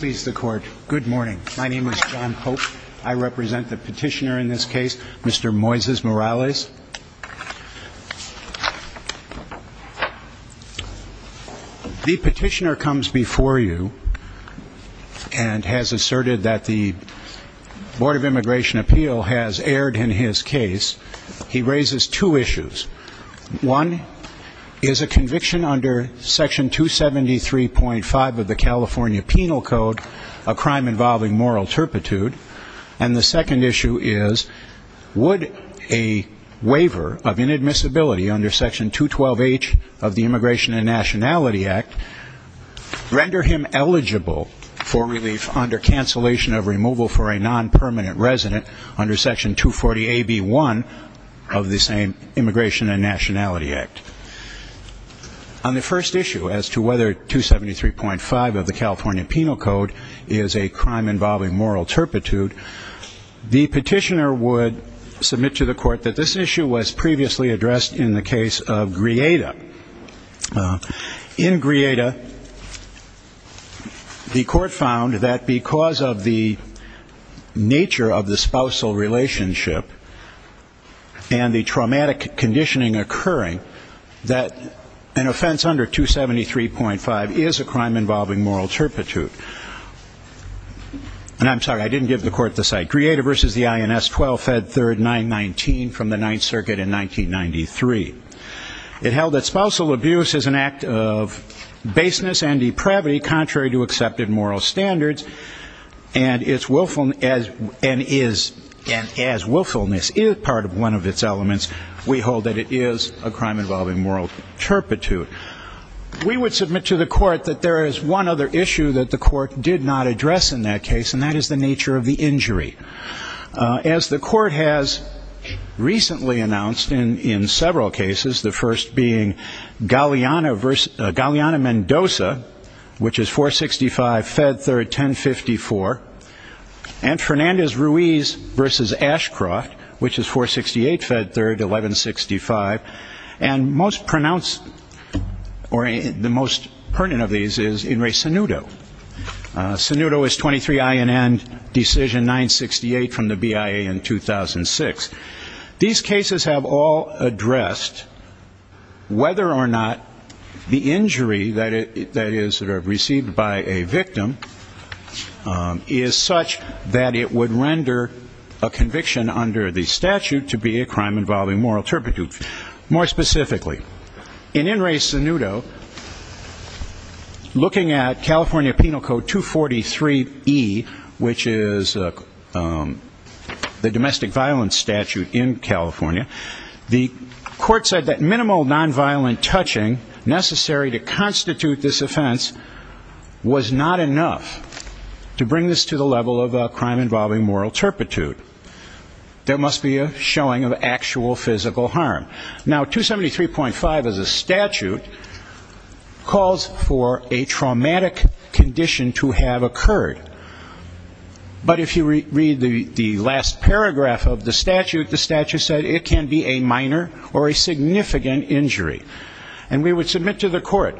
Good morning. My name is John Pope. I represent the petitioner in this case, Mr. Moises Morales. The petitioner comes before you and has asserted that the Board of Immigration Appeal has erred in his case. He raises two issues. One is a conviction under Section 273.5 of the California Penal Code, a crime involving moral turpitude. And the second issue is, would a waiver of inadmissibility under Section 212H of the Immigration and Nationality Act render him eligible for relief under cancellation of removal for a non-permanent resident under Section 240AB1 of the same Immigration and Nationality Act? On the first issue, as to whether 273.5 of the California Penal Code is a crime involving moral turpitude, the petitioner would submit to the court that this issue was previously addressed in the case of Grieta. In Grieta, the court found that because of the nature of the spousal relationship and the traumatic conditioning occurring, that an offense under 273.5 is a crime involving moral turpitude. And I'm sorry, I didn't give the court the site. Grieta versus the INS 12, Fed 3, 919 from the Ninth Circuit in 1993. It held that spousal abuse is an act of baseness and depravity contrary to accepted moral standards, and is, and as willfulness is part of one of its elements, we hold that it is a crime involving moral turpitude. We would submit to the court that there is one other issue that the court did not address in that case, and that is the nature of the injury. As the court has recently announced in several cases, the first being Galeana versus Galeana-Mendoza, which is 465, Fed 3, 1054. And Fernandez-Ruiz versus Ashcroft, which is 468, Fed 3, 1165. And most pronounced, or the most pertinent of these is Inres-Sanudo. Sanudo is 23 I and N, decision 968 from the BIA in 2006. These cases have all addressed whether or not the injury that is received by a victim is such that it would render a conviction under the statute to be a crime involving moral turpitude. More specifically, in Inres-Sanudo, looking at California Penal Code 243E, which is the domestic violence statute in California, the court to constitute this offense was not enough to bring this to the level of a crime involving moral turpitude. There must be a showing of actual physical harm. Now, 273.5 as a statute calls for a traumatic condition to have occurred. But if you read the last paragraph of the statute, the statute said it can be a minor or a significant injury. And we would submit to the court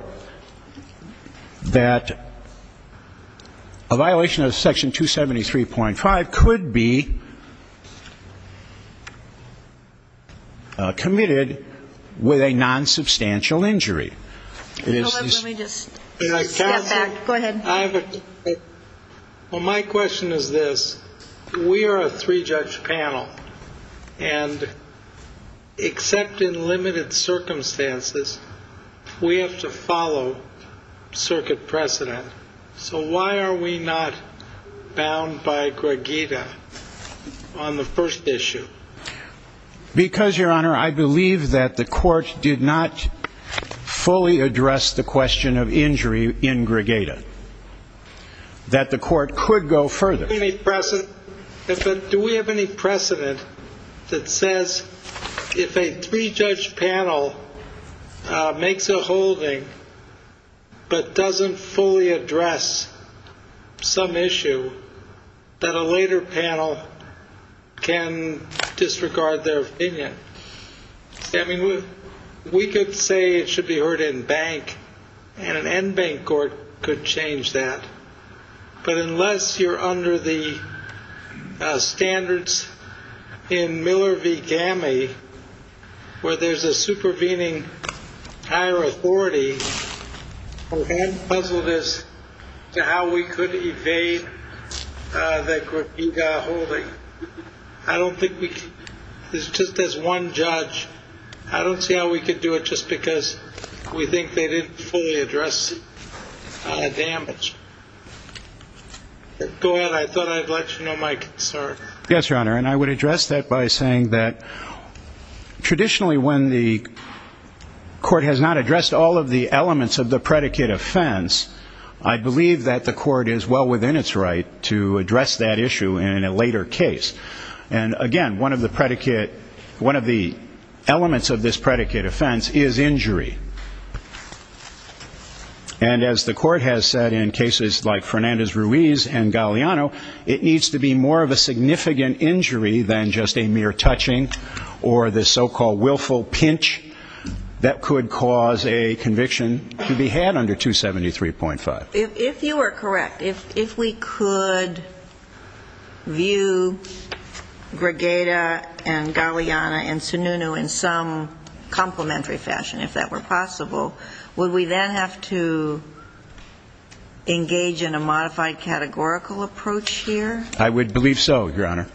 that a violation of section 273.5 could be committed with a nonsubstantial injury. Let me just step back. Go ahead. Well, my question is this. We are a three-judge panel. And except in limited circumstances, we have to follow circuit precedent. So why are we not bound by Gregada on the first issue? Because, Your Honor, I believe that the court did not fully address the question of injury in Gregada, that the court could go further. Do we have any precedent that says if a three-judge panel makes a holding but doesn't fully address some issue, that a later panel can disregard their opinion? I mean, we could say it should be heard in bank. And an NBank court could change that. But unless you're under the standards in Miller v. GAMI, where there's a supervening higher authority, we can't puzzle this to how we could evade the Gregada holding. I don't think we could. Just as one judge, I don't see how we could do it just because we think they didn't fully address damage. Go ahead. I thought I'd let you know my concern. Yes, Your Honor. And I would address that by saying that traditionally when the court has not addressed all of the elements of the predicate offense, I believe that the court is well within its right to address that issue in a later case. And again, one of the elements of this predicate offense is injury. And as the court has said in cases like Fernandez-Ruiz and Galeano, it needs to be more of a significant injury than just a mere touching or the so-called willful pinch that could cause a conviction to be had under 273.5. If you are correct, if we could view Gregada and Galeano and Sununu in some complementary fashion, if that were possible, would we then have to engage in a modified categorical approach here? I would believe so, Your Honor.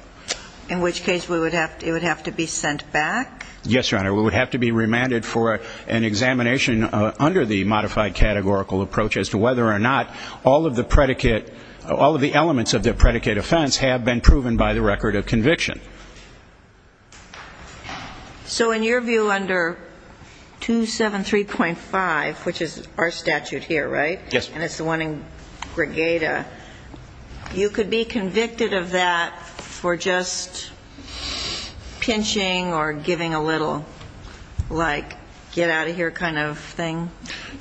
In which case it would have to be sent back? Yes, Your Honor. We would have to be remanded for an examination under the modified categorical approach as to whether or not all of the predicate, all of the elements of the predicate offense have been proven by the record of conviction. So in your view under 273.5, which is our statute here, right? Yes. And it's the one in Gregada, you could be convicted of that for just pinching or giving a little, like, get out of here kind of thing?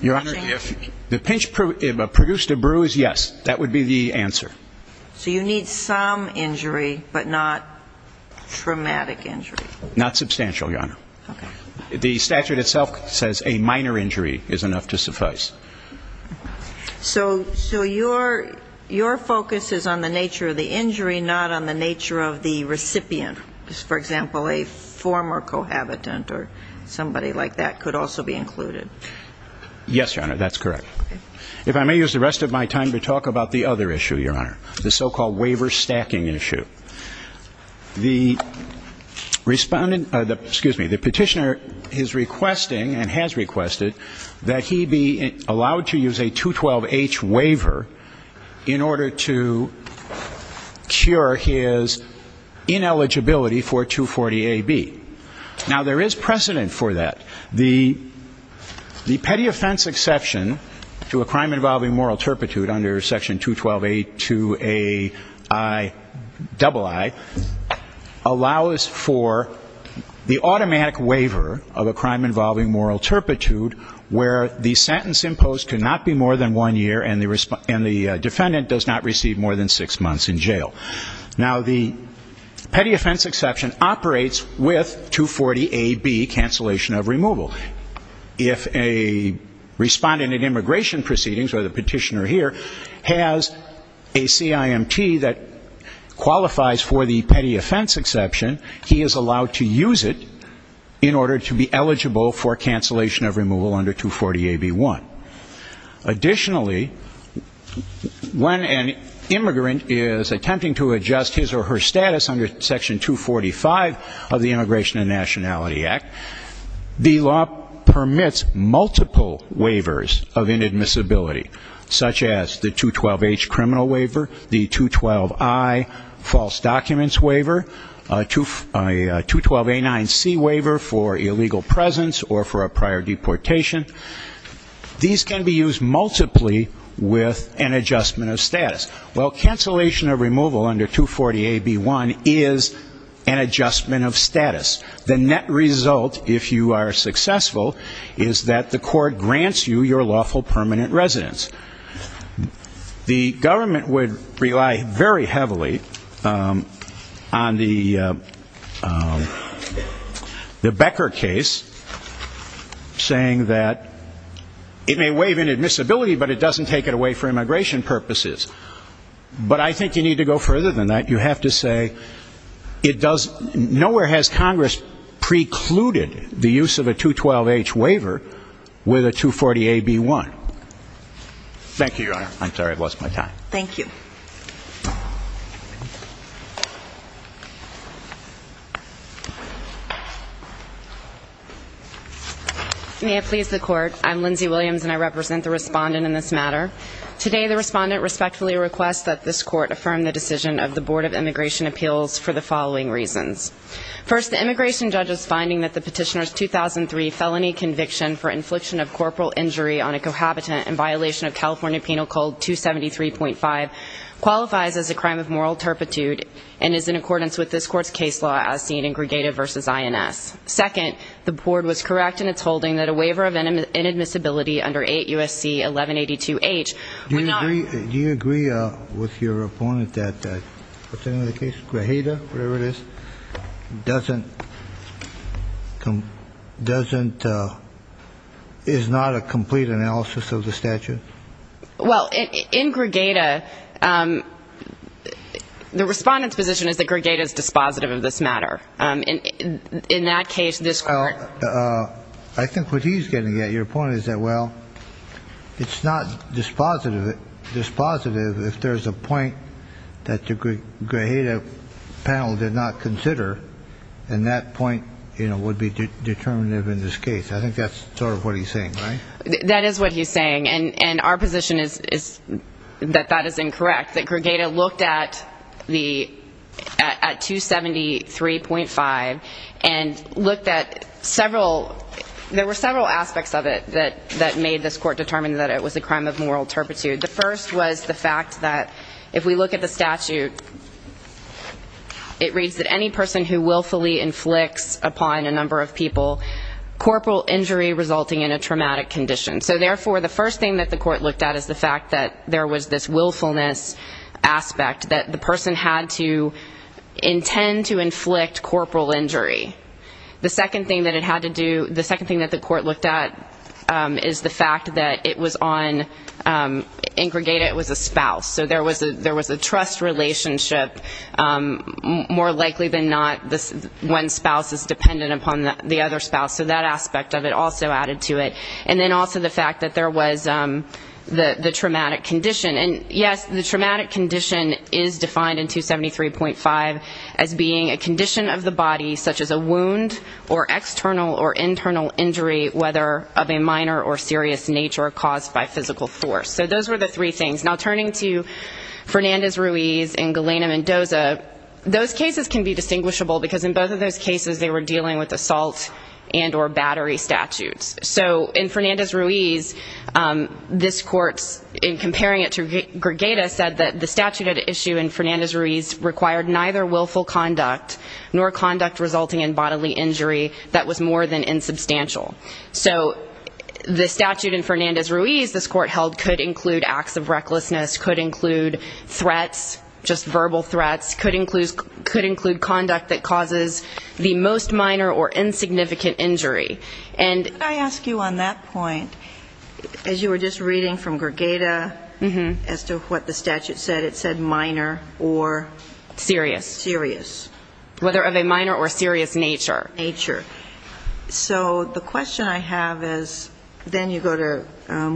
Your Honor, if the pinch produced a bruise, yes. That would be the answer. So you need some injury, but not traumatic injury? Not substantial, Your Honor. The statute itself says a minor injury is enough to suffice. So your focus is on the nature of the injury, not on the nature of the recipient. For example, a former cohabitant or somebody like that could also be included? Yes, Your Honor, that's correct. Okay. If I may use the rest of my time to talk about the other issue, Your Honor, the so-called waiver stacking issue. The respondent, excuse me, the petitioner is requesting and has requested that he be allowed to use a 212H waiver in order to cure his ineligibility for 240AB. Now there is precedent for that. The petty offense exception to a crime involving moral turpitude under section 212A2AIII allows for the automatic waiver of a crime involving moral turpitude where the sentence imposed cannot be more than one year and the defendant does not receive more than six months in jail. Now the petty offense exception operates with 240AB, cancellation of removal. If a respondent in immigration proceedings or the petitioner here has a CIMT that qualifies for the petty under 240AB1. Additionally, when an immigrant is attempting to adjust his or her status under section 245 of the Immigration and Nationality Act, the law permits multiple waivers of inadmissibility, such as the 212H criminal waiver, the 212I false documents waiver, a 212A9C waiver for illegal presence or for a prior deportation. These can be used multiply with an adjustment of status. Well, cancellation of removal under 240AB1 is an adjustment of status. The net result, if you are successful, is that the court grants you your lawful permanent residence. The government would rely very heavily on the Becker case, saying that it may waive inadmissibility, but it doesn't take it away for immigration purposes. But I think you need to go further than that. You have to say it does no where has Congress precluded the use of a 212H waiver with a 240AB1. Thank you, Your Honor. I'm sorry I've lost my time. Thank you. May it please the Court. I'm Lindsay Williams and I represent the Respondent in this matter. Today the Respondent respectfully requests that this Court affirm the decision of the Board of Immigration Appeals for the following reasons. First, the immigration judge's finding that the petitioner's 2003 felony conviction for infliction of corporal injury on a cohabitant in violation of California Penal Code 273.5 qualifies as a crime of moral turpitude and is in accordance with this Court's case law as seen in Gregada v. INS. Second, the Board was correct in its holding that a waiver of inadmissibility under 8 U.S.C. 1182H would not Do you agree with your opponent that Gregada, whatever it is, is not a complete analysis of the statute? Well, in Gregada, the Respondent's position is that Gregada is dispositive of this matter. In that case, this Court I think what he's getting at, your point, is that, well, it's not dispositive if there's a point that the Gregada panel did not consider and that point would be determinative in this case. I think that's sort of what he's saying, right? That is what he's saying, and our position is that that is incorrect, that Gregada looked at 273.5 and looked at several, there were several aspects of it that made this Court determine that it was a crime of moral turpitude. The first was the fact that if we look at the statute, it reads that any person who willfully inflicts upon a number of people corporal injury resulting in a traumatic condition. So, therefore, the first thing that the Court looked at is the fact that there was this willfulness aspect, that the person had to intend to inflict corporal injury. The second thing that it had to do, the second thing that the Court looked at is the fact that it was on, in Gregada it was a spouse, so there was a trust relationship, more likely than not, when a person is dependent upon the other spouse. So that aspect of it also added to it. And then also the fact that there was the traumatic condition. And, yes, the traumatic condition is defined in 273.5 as being a condition of the body such as a wound or external or internal injury, whether of a minor or serious nature caused by physical force. So those were the three things. Now, turning to Fernandez-Ruiz and Galena Mendoza, those cases can be distinguishable because in both of those cases they were dealing with assault and or battery statutes. So in Fernandez-Ruiz, this Court, in comparing it to Gregada, said that the statute at issue in Fernandez-Ruiz required neither willful conduct nor conduct resulting in bodily injury that was more than insubstantial. So the statute in Fernandez-Ruiz, this Court held, could include acts of recklessness, could include threats, just verbal threats, could include conduct that causes the most minor or insignificant injury. And I ask you on that point, as you were just reading from Gregada as to what the statute said, it said minor or serious. Serious. Whether of a minor or serious nature. Nature. So the question I have is, then you go to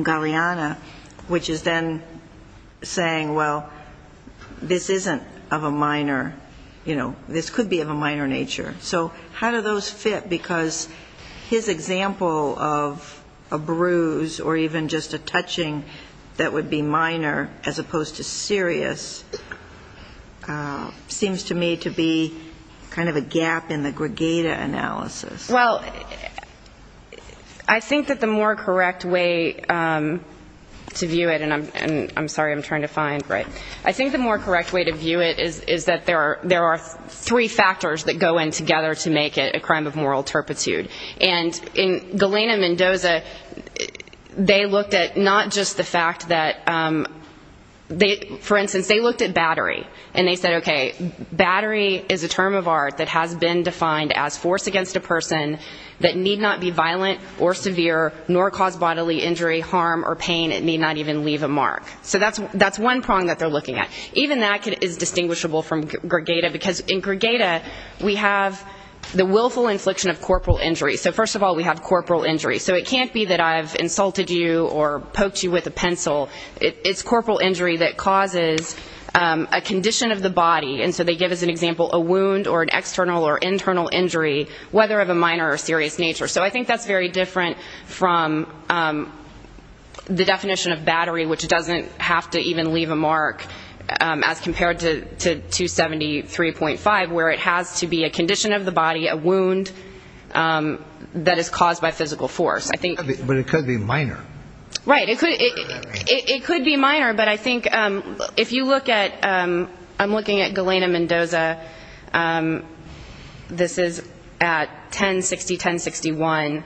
Galena, which is then saying, well, this isn't of a minor, you know, this could be of a minor nature. So how do those fit? Because his example of a bruise or even just a touching that would be minor as opposed to serious seems to me to be kind of a gap in the Gregada analysis. Well, I think that the more correct way to view it, and I'm sorry, I'm trying to find. I think the more correct way to view it is that there are three factors that go in together to make it a crime of moral For instance, they looked at battery and they said, okay, battery is a term of art that has been defined as force against a person that need not be violent or severe nor cause bodily injury, harm or pain. It may not even leave a mark. So that's one prong that they're looking at. Even that is distinguishable from Gregada, because in Gregada we have the willful infliction of corporal injury. So first of all, we have corporal injury. So it can't be that I've insulted you or poked you with a pencil. It's corporal injury that causes a condition of the body. And so they give as an example a wound or an external or internal injury, whether of a minor or serious nature. So I think that's very different from the definition of battery, which doesn't have to even leave a mark as compared to 273.5, where it has to be a condition of the body, a wound that is caused by physical force. But it could be minor. Right. It could be minor, but I think if you look at ‑‑ I'm looking at Galena Mendoza. This is at 1060, 1061.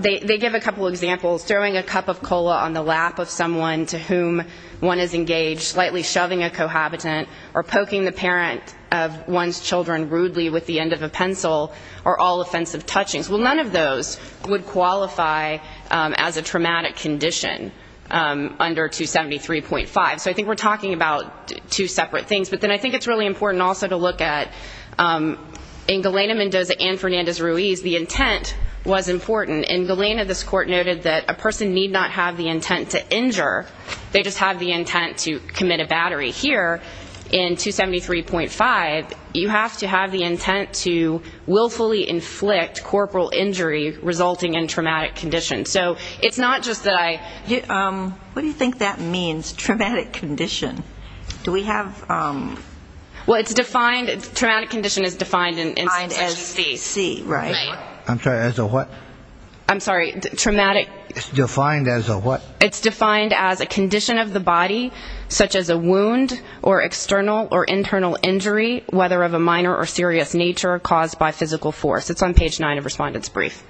They give a couple of examples, throwing a cup of cola on the lap of someone to whom one is engaged, lightly shoving a cohabitant or poking the parent of one's children rudely with the end of a pencil are all offensive touchings. Well, none of those would qualify as a traumatic condition under 273.5. So I think we're talking about two separate things. But then I think it's really important also to look at, in Galena Mendoza and Fernandez Ruiz, the intent was important. In Galena, this court noted that a person need not have the intent to injure. They just have the intent to commit a battery. Here, in 273.5, you have to have the intent to willfully inflict corporal injury resulting in traumatic condition. So it's not just that I ‑‑ What do you think that means, traumatic condition? Do we have ‑‑ Well, it's defined ‑‑ traumatic condition is defined as C. I'm sorry, as a what? I'm sorry, traumatic ‑‑ It's defined as a what? It's defined as a condition of the body, such as a wound or external or internal injury, whether of a minor or serious nature caused by physical force. It's on page 9 of Respondent's Brief.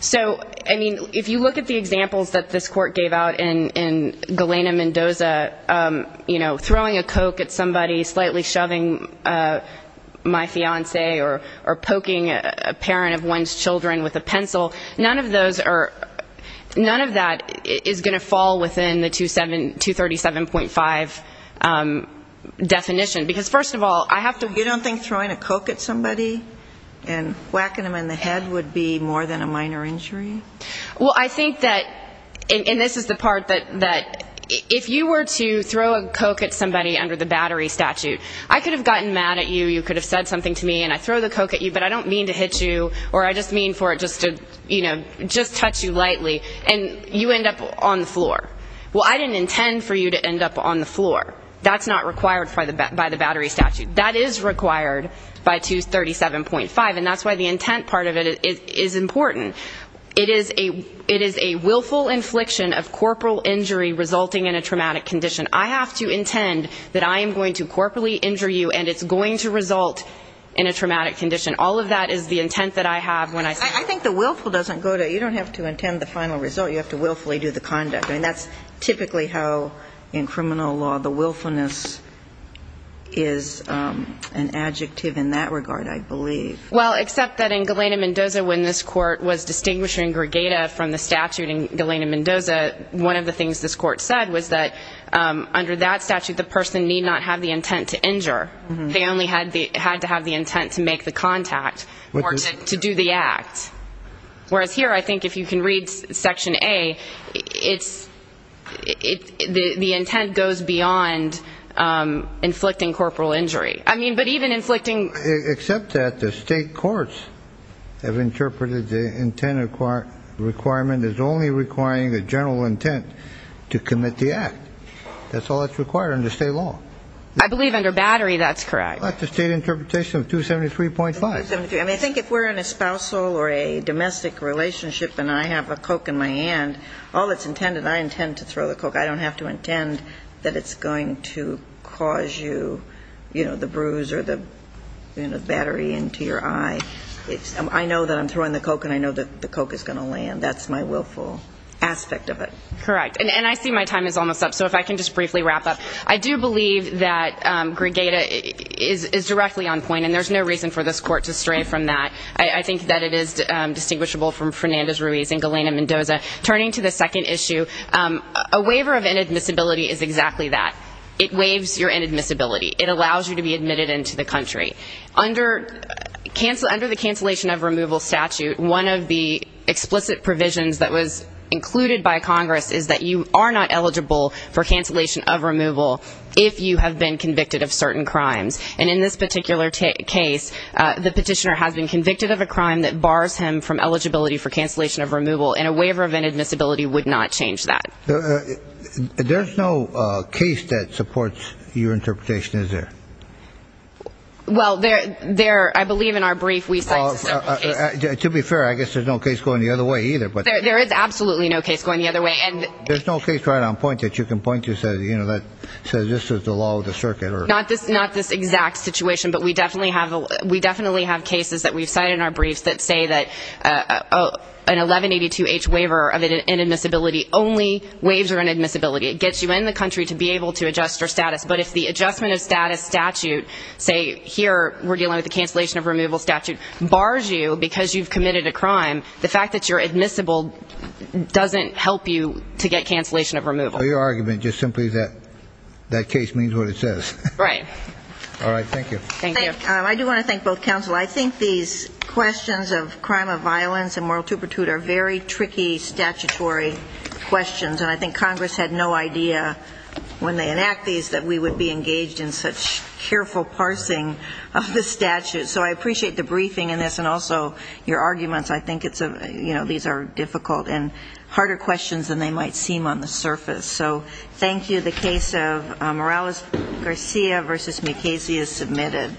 So, I mean, if you look at the examples that this court gave out in Galena Mendoza, you know, a parent of one's children with a pencil, none of those are ‑‑ none of that is going to fall within the 237.5 definition. Because, first of all, I have to ‑‑ You don't think throwing a Coke at somebody and whacking them in the head would be more than a minor injury? Well, I think that, and this is the part that if you were to throw a Coke at somebody under the battery statute, I could have gotten mad at you, you could have said something to me, and I throw the Coke at you, but I don't mean to hit you, or I just mean for it just to, you know, just touch you lightly, and you end up on the floor. Well, I didn't intend for you to end up on the floor. That's not required by the battery statute. That is required by 237.5, and that's why the intent part of it is important. It is a willful infliction of corporal injury resulting in a traumatic condition. I have to intend that I am going to corporally injure you, and it's going to result in a traumatic condition. All of that is the intent that I have when I say ‑‑ I think the willful doesn't go to ‑‑ you don't have to intend the final result. You have to willfully do the conduct. I mean, that's typically how, in criminal law, the willfulness is an adjective in that regard, I believe. Well, except that in Galena-Mendoza, when this Court was distinguishing Gregata from the statute in Galena-Mendoza, one of the things this Court said was that under that statute, the person need not have the intent to injure. They only had to have the intent to make the contact or to do the act. Whereas here, I think if you can read Section A, the intent goes beyond inflicting corporal injury. I mean, but even inflicting ‑‑ Except that the State courts have interpreted the intent requirement as only requiring a general intent to commit the act. That's all that's required under State law. I believe under Battery, that's correct. That's the State interpretation of 273.5. 273. I mean, I think if we're in a spousal or a domestic relationship and I have a Coke in my hand, all that's intended, I intend to throw the Coke. I don't have to intend that it's going to cause you the bruise or the battery into your eye. I know that I'm throwing the Coke and I know that the Coke is going to land. That's my willful aspect of it. Correct. And I see my time is almost up, so if I can just briefly wrap up. I do believe that Gregata is directly on point, and there's no reason for this Court to stray from that. I think that it is distinguishable from Fernandez-Ruiz and Galena-Mendoza. Turning to the second issue, a waiver of inadmissibility is exactly that. It waives your inadmissibility. It allows you to be admitted into the country. Under the cancellation of removal statute, one of the explicit provisions that was included by Congress is that you are not eligible for cancellation of removal if you have been convicted of certain crimes. And in this particular case, the petitioner has been convicted of a crime that bars him from eligibility for cancellation of removal, and a waiver of inadmissibility would not change that. There's no case that supports your interpretation, is there? Well, I believe in our brief we cite a certain case. To be fair, I guess there's no case going the other way either. There is absolutely no case going the other way. There's no case right on point that you can point to that says this is the law of the circuit? Not this exact situation, but we definitely have cases that we've cited in our briefs that say that an 1182-H waiver of inadmissibility only waives your inadmissibility. It gets you in the country to be able to adjust your status. But if the adjustment of status statute, say here we're dealing with the cancellation of removal statute, bars you because you've committed a crime, the fact that you're admissible doesn't help you to get cancellation of removal. So your argument just simply is that that case means what it says. Right. All right, thank you. Thank you. I do want to thank both counsel. I think these questions of crime of violence and moral tupertude are very tricky statutory questions, and I think Congress had no idea when they enact these that we would be engaged in such careful parsing of the statute. So I appreciate the briefing in this and also your arguments. I think these are difficult and harder questions than they might seem on the surface. So thank you. The case of Morales-Garcia v. McCasey is submitted.